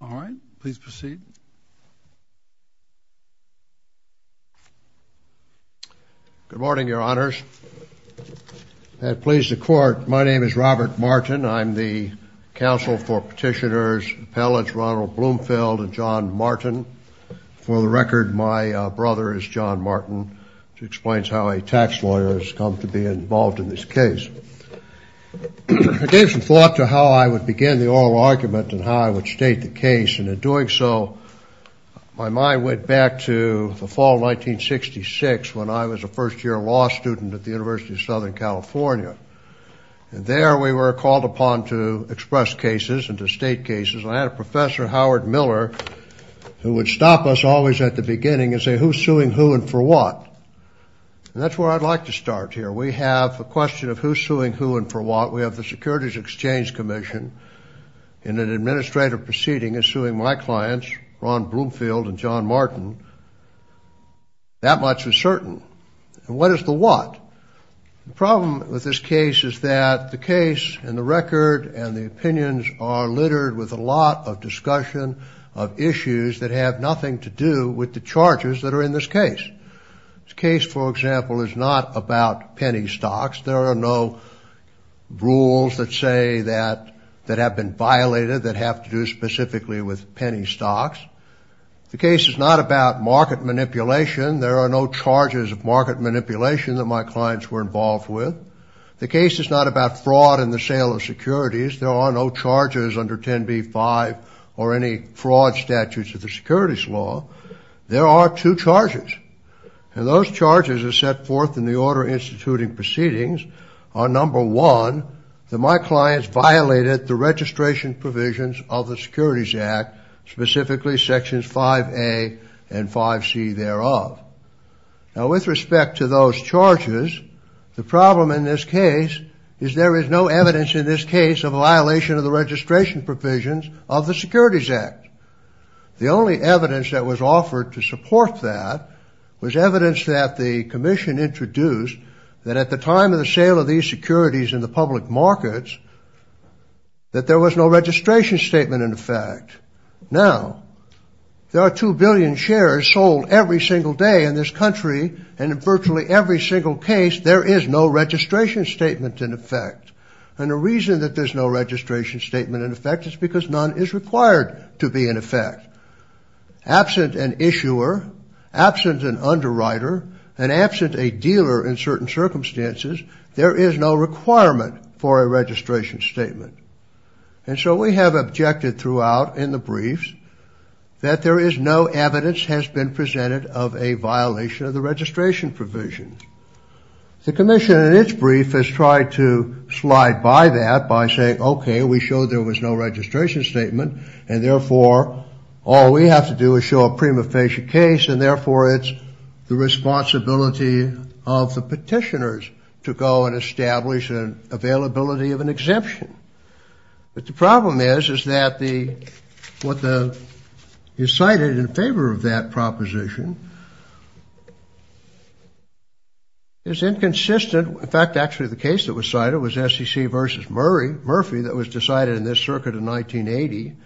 All right. Please proceed. Good morning, Your Honors. I have pleased the Court. My name is Robert Martin. I'm the Counsel for Petitioners, Appellants Ronald Bloomfield and John Martin. For the record, my brother is John Martin, which explains how a tax lawyer has come to be involved in this case. I gave some thought to how I would begin the oral argument and how I would state the case, and in doing so, my mind went back to the fall of 1966 when I was a first-year law student at the University of Southern California. And there we were called upon to express cases and to state cases, and I had a professor, Howard Miller, who would stop us always at the beginning and say, who's suing who and for what? And that's where I'd like to start here. We have a question of who's suing who and for what. We have the Securities Exchange Commission in an administrative proceeding is suing my clients, Ron Bloomfield and John Martin. That much is certain. And what is the what? The problem with this case is that the case and the record and the opinions are littered with a lot of discussion of issues that have nothing to do with the charges that are in this case. This case, for example, is not about penny stocks. There are no rules that say that have been violated that have to do specifically with penny stocks. The case is not about market manipulation. There are no charges of market manipulation that my clients were involved with. The case is not about fraud in the sale of securities. There are no charges under 10b-5 or any fraud statutes of the securities law. There are two charges, and those charges are set forth in the order instituting proceedings on number one, that my clients violated the registration provisions of the Securities Act, specifically sections 5A and 5C thereof. Now, with respect to those charges, the problem in this case is there is no evidence in this case of violation of the registration provisions of the Securities Act. The only evidence that was offered to support that was evidence that the commission introduced that at the time of the sale of these securities in the public markets that there was no registration statement in effect. Now, there are 2 billion shares sold every single day in this country, and in virtually every single case there is no registration statement in effect. And the reason that there's no registration statement in effect is because none is required to be in effect. Absent an issuer, absent an underwriter, and absent a dealer in certain circumstances, there is no requirement for a registration statement. And so we have objected throughout in the briefs that there is no evidence has been presented of a violation of the registration provisions. The commission in its brief has tried to slide by that by saying, okay, we showed there was no registration statement, and therefore all we have to do is show a prima facie case, and therefore it's the responsibility of the petitioners to go and establish an availability of an exemption. But the problem is, is that what is cited in favor of that proposition is inconsistent. In fact, actually the case that was cited was SEC versus Murphy that was decided in this circuit in 1980.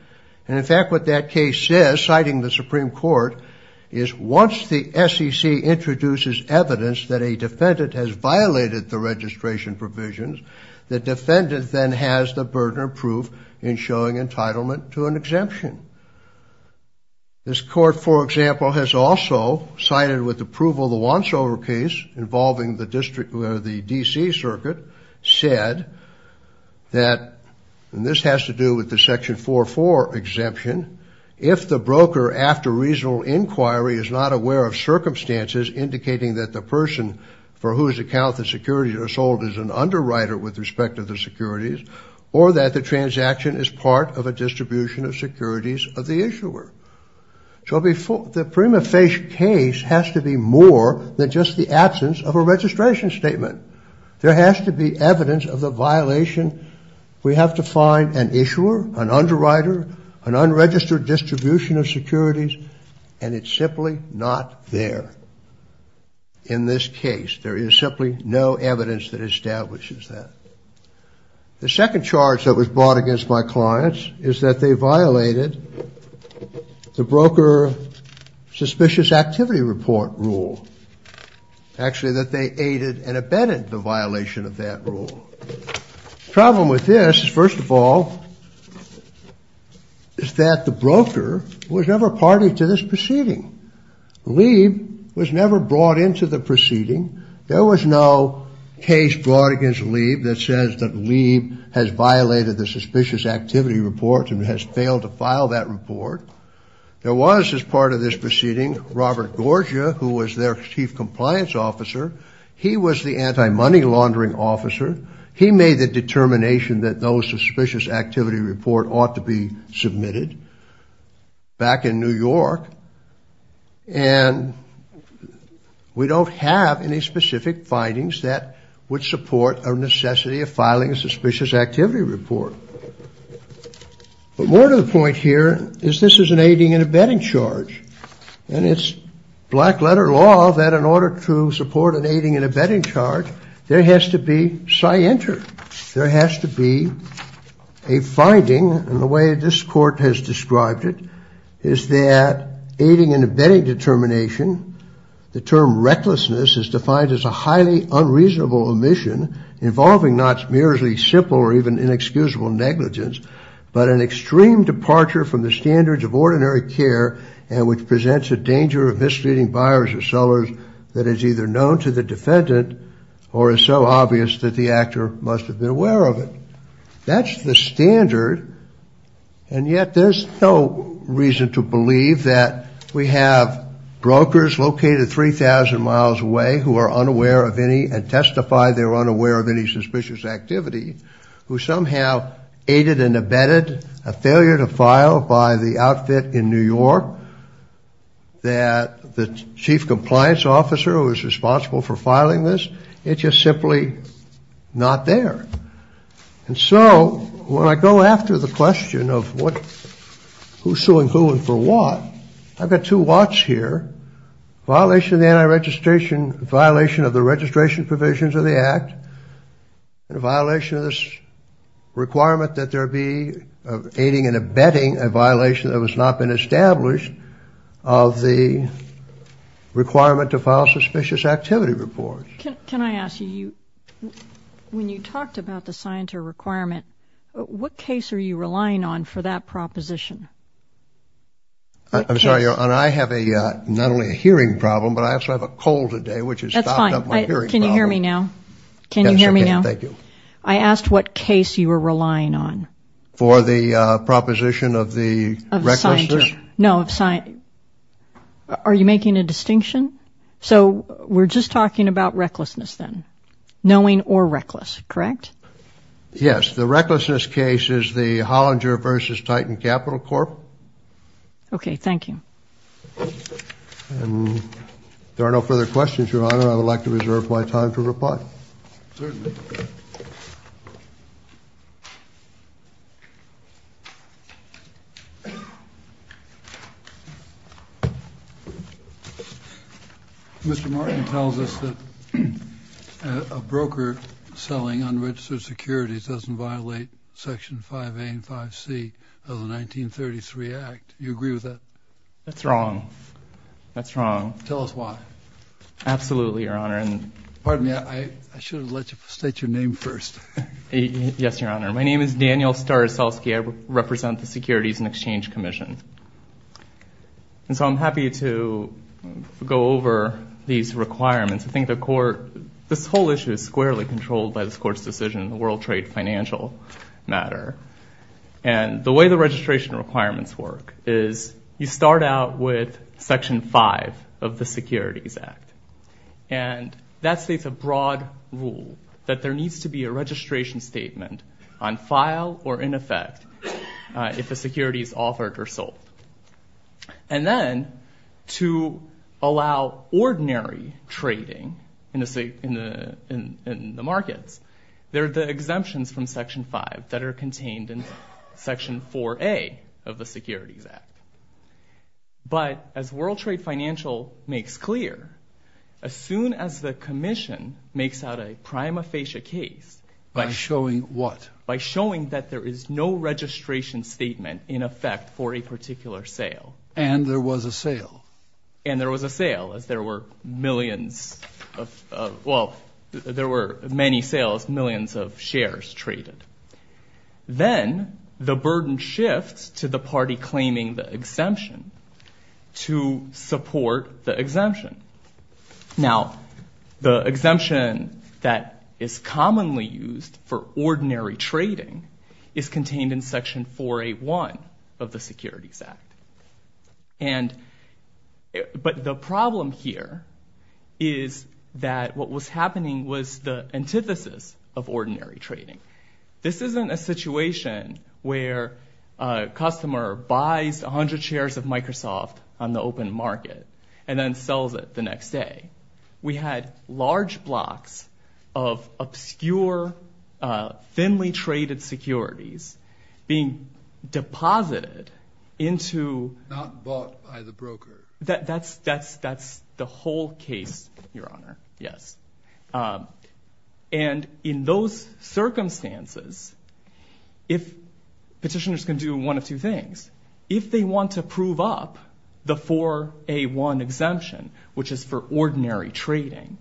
And in fact, what that case says, citing the Supreme Court, is once the SEC introduces evidence that a defendant has violated the registration provisions, the defendant then has the burden of proof in showing entitlement to an exemption. This court, for example, has also cited with approval the Wansover case involving the DC circuit, said that, and this has to do with the Section 4.4 exemption, if the broker after reasonable inquiry is not aware of circumstances indicating that the person for whose account the securities are sold is an underwriter with respect to the securities, or that the transaction is part of a distribution of securities, of the issuer. So the prima facie case has to be more than just the absence of a registration statement. There has to be evidence of the violation. We have to find an issuer, an underwriter, an unregistered distribution of securities, and it's simply not there in this case. There is simply no evidence that establishes that. The second charge that was brought against my clients is that they violated the broker suspicious activity report rule. Actually, that they aided and abetted the violation of that rule. The problem with this, first of all, is that the broker was never party to this proceeding. Lieb was never brought into the proceeding. There was no case brought against Lieb that says that Lieb has violated the suspicious activity report and has failed to file that report. There was, as part of this proceeding, Robert Gorgia, who was their chief compliance officer. He was the anti-money laundering officer. He made the determination that those suspicious activity report ought to be submitted back in New York, and we don't have any specific findings that would support a necessity of filing a suspicious activity report. But more to the point here is this is an aiding and abetting charge, and it's black-letter law that in order to support an aiding and abetting charge, there has to be scienter. There has to be a finding, and the way this court has described it, is that aiding and abetting determination, the term recklessness is defined as a highly unreasonable omission involving not merely simple or even inexcusable negligence, but an extreme departure from the standards of ordinary care and which presents a danger of misleading buyers or sellers that is either known to the defendant or is so obvious that the actor must be punished. That's the standard, and yet there's no reason to believe that we have brokers located 3,000 miles away who are unaware of any and testify they're unaware of any suspicious activity who somehow aided and abetted a failure to file by the outfit in New York that the chief compliance officer who was responsible for filing this, it's just simply not there. And so when I go after the question of who's suing who and for what, I've got two what's here, violation of the anti-registration, violation of the registration provisions of the act, and a violation of this requirement that there be aiding and abetting a violation that has not been established of the requirement to file suspicious activity reports. Can I ask you, when you talked about the scienter requirement, what case are you relying on for that proposition? I'm sorry. And I have a not only a hearing problem, but I also have a cold today, which is that's fine. Can you hear me now? Can you hear me now? Thank you. I asked what case you were relying on. For the proposition of the record. No, I'm sorry. Are you making a distinction? So we're just talking about recklessness then, knowing or reckless, correct? Yes. The recklessness case is the Hollinger versus Titan Capital Corp. Okay. Thank you. There are no further questions, Your Honor. I would like to reserve my time to reply. Certainly. Thank you. Mr. Martin tells us that a broker selling unregistered securities doesn't violate Section 5A and 5C of the 1933 Act. Do you agree with that? That's wrong. That's wrong. Tell us why. Absolutely, Your Honor. Pardon me. I should have let you state your name first. Yes, Your Honor. My name is Daniel Staroselsky. I represent the Securities and Exchange Commission. And so I'm happy to go over these requirements. I think the court, this whole issue is squarely controlled by this court's decision in the World Trade Financial matter. And the way the registration requirements work is you start out with Section 5 of the Securities Act. And that states a broad rule that there needs to be a registration statement on file or in effect if a security is authored or sold. And then to allow ordinary trading in the markets, there are the exemptions from Section 5 that are contained in Section 4A of the Securities Act. But as World Trade Financial makes clear, as soon as the commission makes out a prima facie case by showing what? By showing that there is no registration statement in effect for a particular sale. And there was a sale. And there was a sale as there were millions of, well, there were many sales, millions of shares traded. Then the burden shifts to the party claiming the exemption to support the exemption. Now, the exemption that is commonly used for ordinary trading is contained in Section 4A1 of the Securities Act. And but the problem here is that what was happening was the antithesis of ordinary trading. This isn't a situation where a customer buys 100 shares of Microsoft on the open market and then sells it the next day. We had large blocks of obscure, thinly traded securities being deposited into. Not bought by the broker. That's the whole case, Your Honor. Yes. And in those circumstances, if petitioners can do one of two things. If they want to prove up the 4A1 exemption, which is for ordinary trading,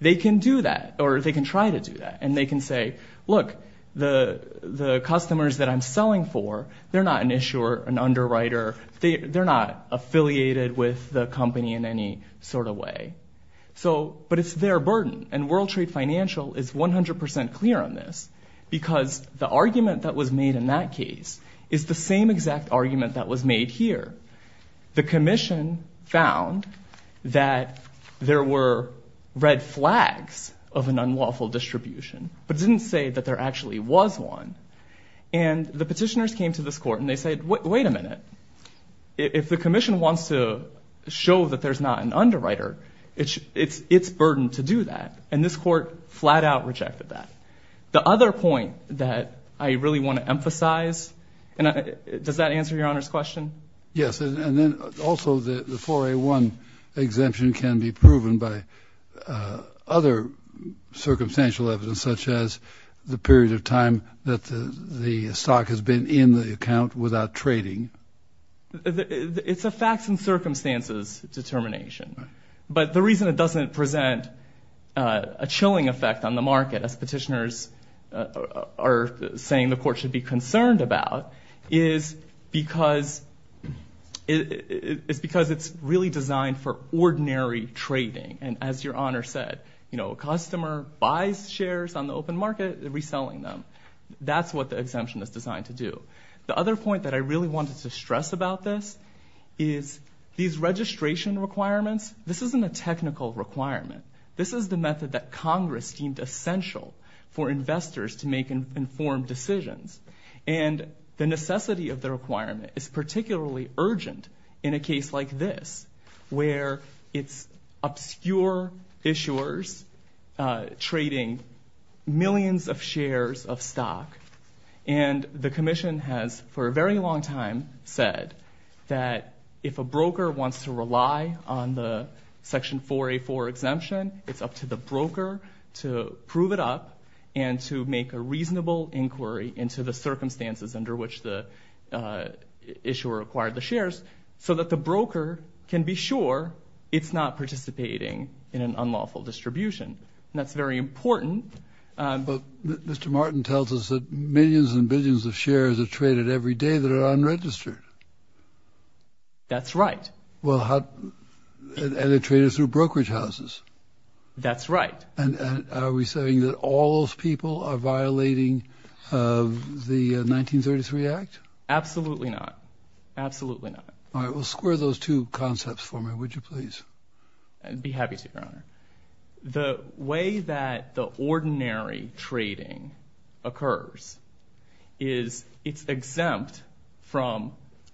they can do that or they can try to do that. And they can say, look, the customers that I'm selling for, they're not an issuer, an underwriter. They're not affiliated with the company in any sort of way. So but it's their burden. And World Trade Financial is 100 percent clear on this because the argument that was made in that case is the same exact argument that was made here. The commission found that there were red flags of an unlawful distribution, but didn't say that there actually was one. And the petitioners came to this court and they said, wait a minute. If the commission wants to show that there's not an underwriter, it's it's it's burden to do that. And this court flat out rejected that. The other point that I really want to emphasize. Does that answer your honor's question? Yes. And then also the 4A1 exemption can be proven by other circumstantial evidence, such as the period of time that the stock has been in the account without trading. It's a facts and circumstances determination. But the reason it doesn't present a chilling effect on the market, as petitioners are saying the court should be concerned about is because it is because it's really designed for ordinary trading. And as your honor said, you know, a customer buys shares on the open market, reselling them. That's what the exemption is designed to do. The other point that I really wanted to stress about this is these registration requirements. This isn't a technical requirement. This is the method that Congress deemed essential for investors to make informed decisions. And the necessity of the requirement is particularly urgent in a case like this, where it's obscure issuers trading millions of shares of stock. And the commission has for a very long time said that if a broker wants to rely on the Section 4A4 exemption, it's up to the broker to prove it up and to make a reasonable inquiry into the circumstances under which the issuer acquired the shares, so that the broker can be sure it's not participating in an unlawful distribution. And that's very important. But Mr. Martin tells us that millions and billions of shares are traded every day that are unregistered. That's right. Well, and they're traded through brokerage houses. That's right. And are we saying that all those people are violating the 1933 Act? Absolutely not. Absolutely not. All right. Well, square those two concepts for me, would you please? I'd be happy to, your honor. The way that the ordinary trading occurs is it's exempt from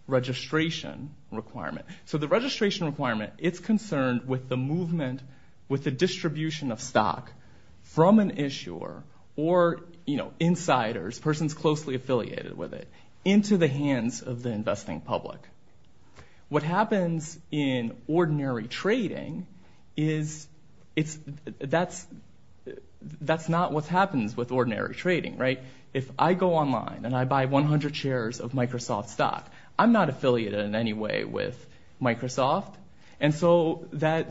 registration requirement. So the registration requirement, it's concerned with the movement, with the distribution of stock from an issuer or, you know, insiders, persons closely affiliated with it, into the hands of the investing public. What happens in ordinary trading is that's not what happens with ordinary trading, right? If I go online and I buy 100 shares of Microsoft stock, I'm not affiliated in any way with Microsoft. And so that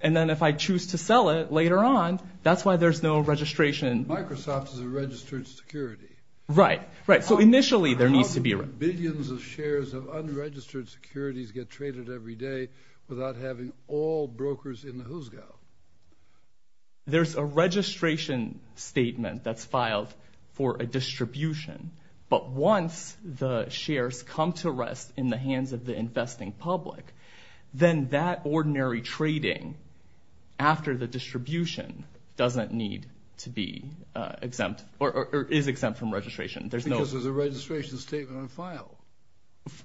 and then if I choose to sell it later on, that's why there's no registration. Microsoft is a registered security. Right. Right. So initially there needs to be a- How do billions of shares of unregistered securities get traded every day without having all brokers in the who's go? There's a registration statement that's filed for a distribution. But once the shares come to rest in the hands of the investing public, then that ordinary trading after the distribution doesn't need to be exempt or is exempt from registration. There's no- Because there's a registration statement on file.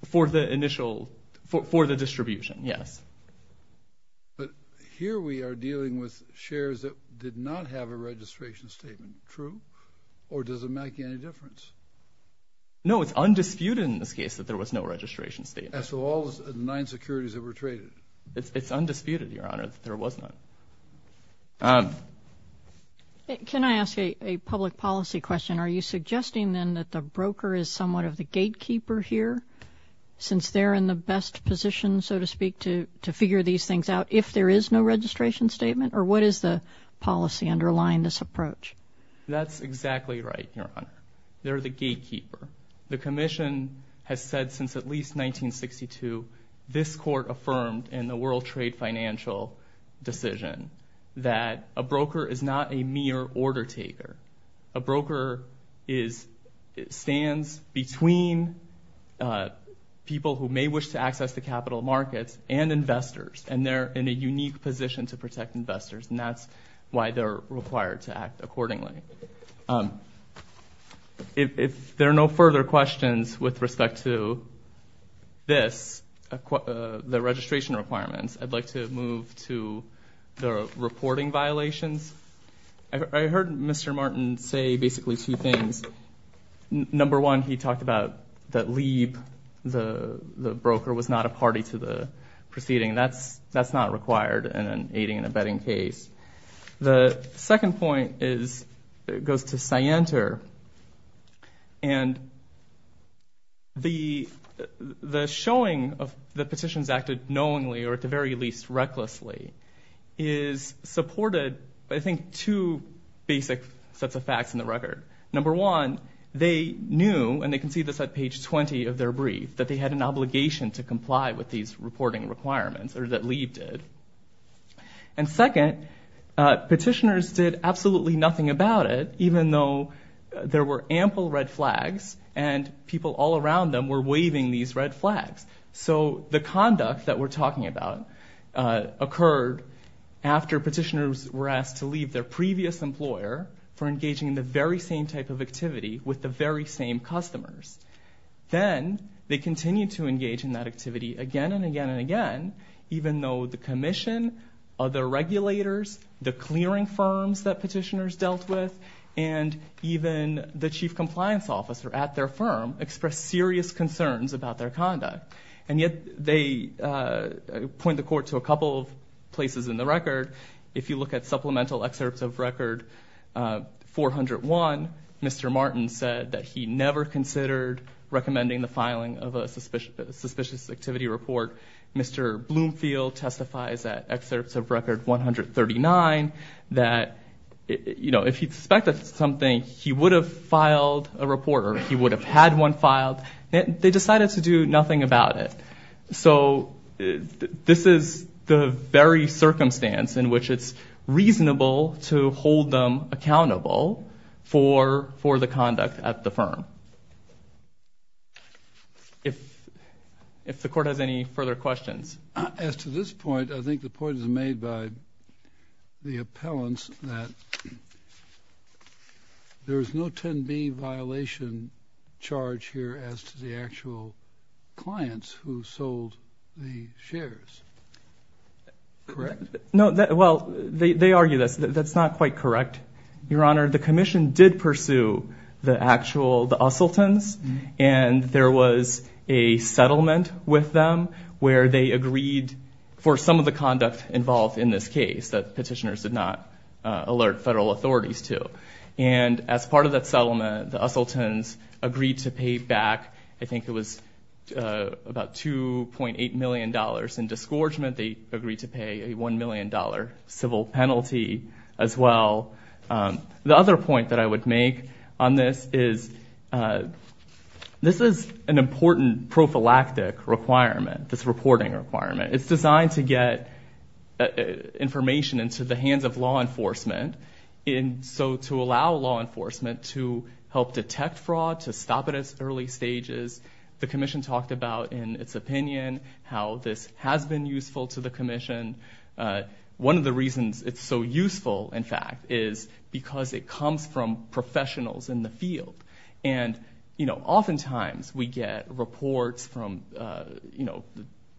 For the initial, for the distribution, yes. But here we are dealing with shares that did not have a registration statement, true? Or does it make any difference? No, it's undisputed in this case that there was no registration statement. So all nine securities that were traded? It's undisputed, Your Honor, that there was none. Can I ask a public policy question? Are you suggesting, then, that the broker is somewhat of the gatekeeper here since they're in the best position, so to speak, to figure these things out if there is no registration statement? Or what is the policy underlying this approach? That's exactly right, Your Honor. They're the gatekeeper. The commission has said since at least 1962 this court affirmed in the World Trade Financial decision that a broker is not a mere order taker. A broker stands between people who may wish to access the capital markets and investors, and they're in a unique position to protect investors, and that's why they're required to act accordingly. If there are no further questions with respect to this, the registration requirements, I'd like to move to the reporting violations. I heard Mr. Martin say basically two things. Number one, he talked about that Lieb, the broker, was not a party to the proceeding. That's not required in an aiding and abetting case. The second point goes to Sienter, and the showing of the petitions acted knowingly, or at the very least recklessly, is supported by, I think, two basic sets of facts in the record. Number one, they knew, and they can see this at page 20 of their brief, that they had an obligation to comply with these reporting requirements, or that Lieb did. And second, petitioners did absolutely nothing about it, even though there were ample red flags, and people all around them were waving these red flags. So the conduct that we're talking about occurred after petitioners were asked to leave their previous employer for engaging in the very same type of activity with the very same customers. Then they continued to engage in that activity again and again and again, even though the commission, other regulators, the clearing firms that petitioners dealt with, and even the chief compliance officer at their firm expressed serious concerns about their conduct. And yet they point the court to a couple of places in the record. If you look at supplemental excerpts of Record 401, Mr. Martin said that he never considered recommending the filing of a suspicious activity report. Mr. Bloomfield testifies at excerpts of Record 139 that, you know, if he suspected something, he would have filed a report, or he would have had one filed. They decided to do nothing about it. So this is the very circumstance in which it's reasonable to hold them accountable for the conduct at the firm. If the court has any further questions. As to this point, I think the point is made by the appellants that there is no 10B violation charge here as to the actual clients who sold the shares, correct? No, well, they argue this. That's not quite correct, Your Honor. The commission did pursue the actual, the Usseltons, and there was a settlement with them where they agreed for some of the conduct involved in this case that petitioners did not alert federal authorities to. And as part of that settlement, the Usseltons agreed to pay back, I think it was about $2.8 million in disgorgement. They agreed to pay a $1 million civil penalty as well. The other point that I would make on this is this is an important prophylactic requirement, this reporting requirement. It's designed to get information into the hands of law enforcement, and so to allow law enforcement to help detect fraud, to stop it at early stages. The commission talked about in its opinion how this has been useful to the commission. One of the reasons it's so useful, in fact, is because it comes from professionals in the field. And oftentimes we get reports from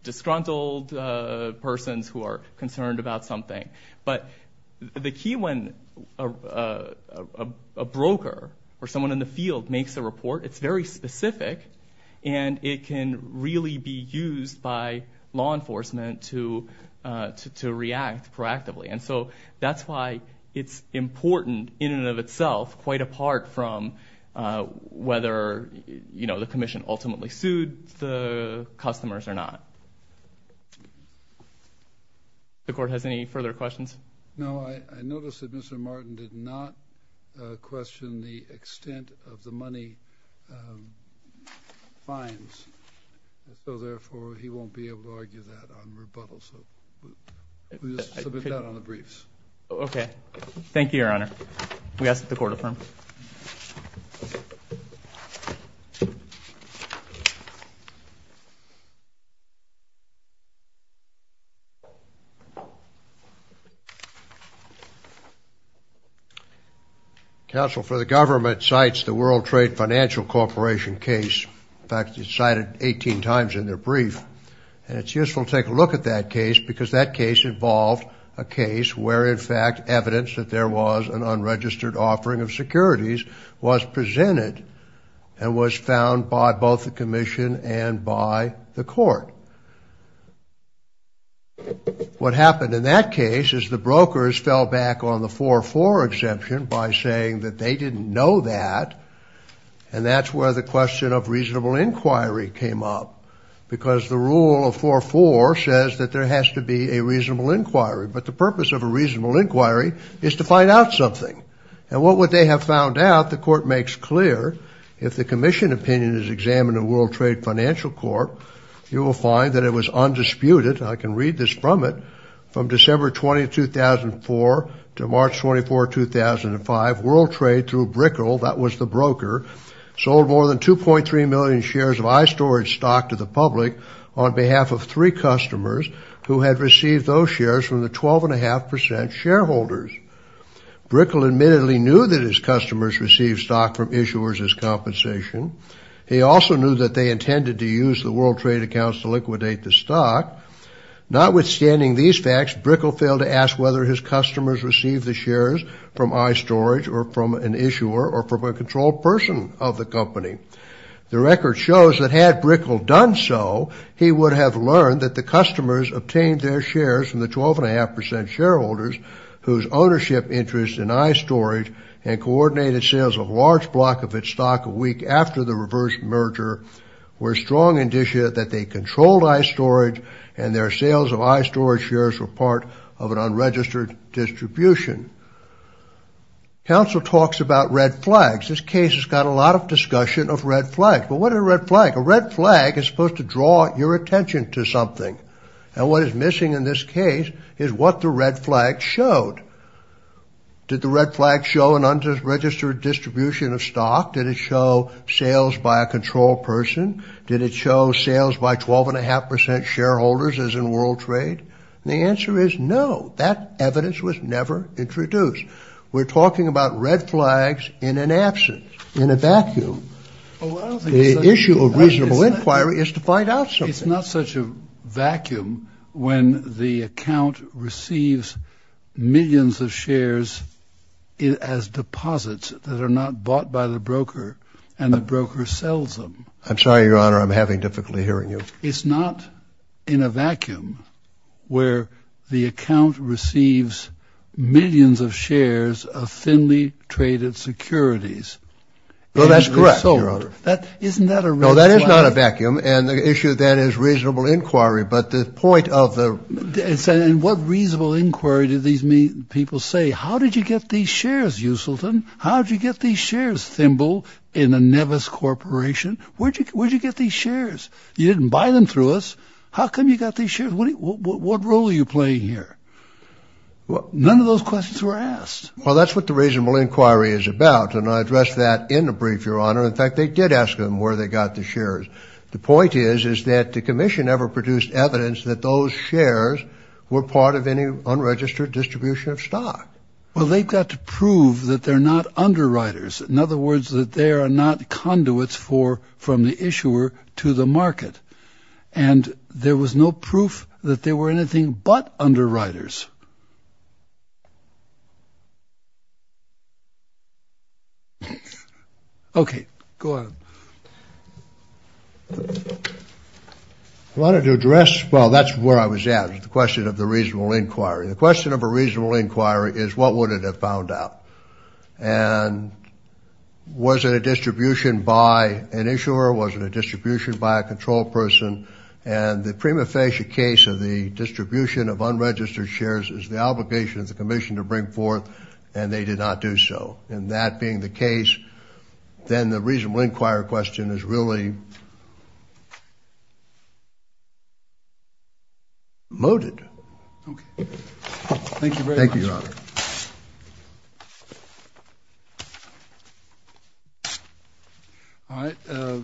disgruntled persons who are concerned about something. But the key when a broker or someone in the field makes a report, it's very specific, and it can really be used by law enforcement to react proactively. And so that's why it's important in and of itself, quite apart from whether the commission ultimately sued the customers or not. The court has any further questions? No, I noticed that Mr. Martin did not question the extent of the money fines, so therefore he won't be able to argue that on rebuttal. So we'll submit that on the briefs. Okay. Thank you, Your Honor. We ask that the court affirm. Counsel for the government cites the World Trade Financial Corporation case. In fact, it's cited 18 times in their brief. And it's useful to take a look at that case because that case involved a case where, in fact, evidence that there was an unregistered offering of securities was presented and was found by both the commission and by the court. What happened in that case is the brokers fell back on the 4-4 exemption by saying that they didn't know that, and that's where the question of reasonable inquiry came up, because the rule of 4-4 says that there has to be a reasonable inquiry. But the purpose of a reasonable inquiry is to find out something. And what would they have found out? If the commission opinion is examined at World Trade Financial Corp., you will find that it was undisputed, and I can read this from it, from December 20, 2004, to March 24, 2005, World Trade through Brickle, that was the broker, sold more than 2.3 million shares of iStorage stock to the public on behalf of three customers who had received those shares from the 12.5 percent shareholders. Brickle admittedly knew that his customers received stock from issuers as compensation. He also knew that they intended to use the World Trade accounts to liquidate the stock. Notwithstanding these facts, Brickle failed to ask whether his customers received the shares from iStorage or from an issuer or from a controlled person of the company. The record shows that had Brickle done so, he would have learned that the customers obtained their shares from the 12.5 percent shareholders, whose ownership interest in iStorage and coordinated sales of a large block of its stock a week after the reverse merger, were strong indicia that they controlled iStorage, and their sales of iStorage shares were part of an unregistered distribution. Council talks about red flags. This case has got a lot of discussion of red flags. But what is a red flag? A red flag is supposed to draw your attention to something. And what is missing in this case is what the red flag showed. Did the red flag show an unregistered distribution of stock? Did it show sales by a controlled person? Did it show sales by 12.5 percent shareholders as in World Trade? The answer is no. That evidence was never introduced. We're talking about red flags in an absence, in a vacuum. The issue of reasonable inquiry is to find out something. It's not such a vacuum when the account receives millions of shares as deposits that are not bought by the broker and the broker sells them. I'm sorry, Your Honor, I'm having difficulty hearing you. It's not in a vacuum where the account receives millions of shares of thinly traded securities. Well, that's correct, Your Honor. Isn't that a red flag? No, that is not a vacuum. And the issue then is reasonable inquiry. But the point of the— And what reasonable inquiry do these people say? How did you get these shares, Usulton? How did you get these shares, Thimble, in the Nevis Corporation? Where did you get these shares? You didn't buy them through us. How come you got these shares? What role are you playing here? None of those questions were asked. Well, that's what the reasonable inquiry is about. In fact, they did ask them where they got the shares. The point is, is that the commission never produced evidence that those shares were part of any unregistered distribution of stock. Well, they got to prove that they're not underwriters. In other words, that they are not conduits for—from the issuer to the market. And there was no proof that they were anything but underwriters. Okay. Go ahead. I wanted to address—well, that's where I was at with the question of the reasonable inquiry. The question of a reasonable inquiry is, what would it have found out? And was it a distribution by an issuer? Was it a distribution by a control person? And the prima facie case of the distribution of unregistered shares, is the obligation of the commission to bring forth, and they did not do so. And that being the case, then the reasonable inquiry question is really mooted. Okay. Thank you very much. Thank you, Your Honor. All right.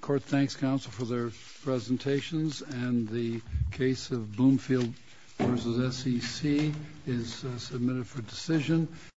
Court thanks counsel for their presentations. And the case of Bloomfield v. SEC is submitted for decision.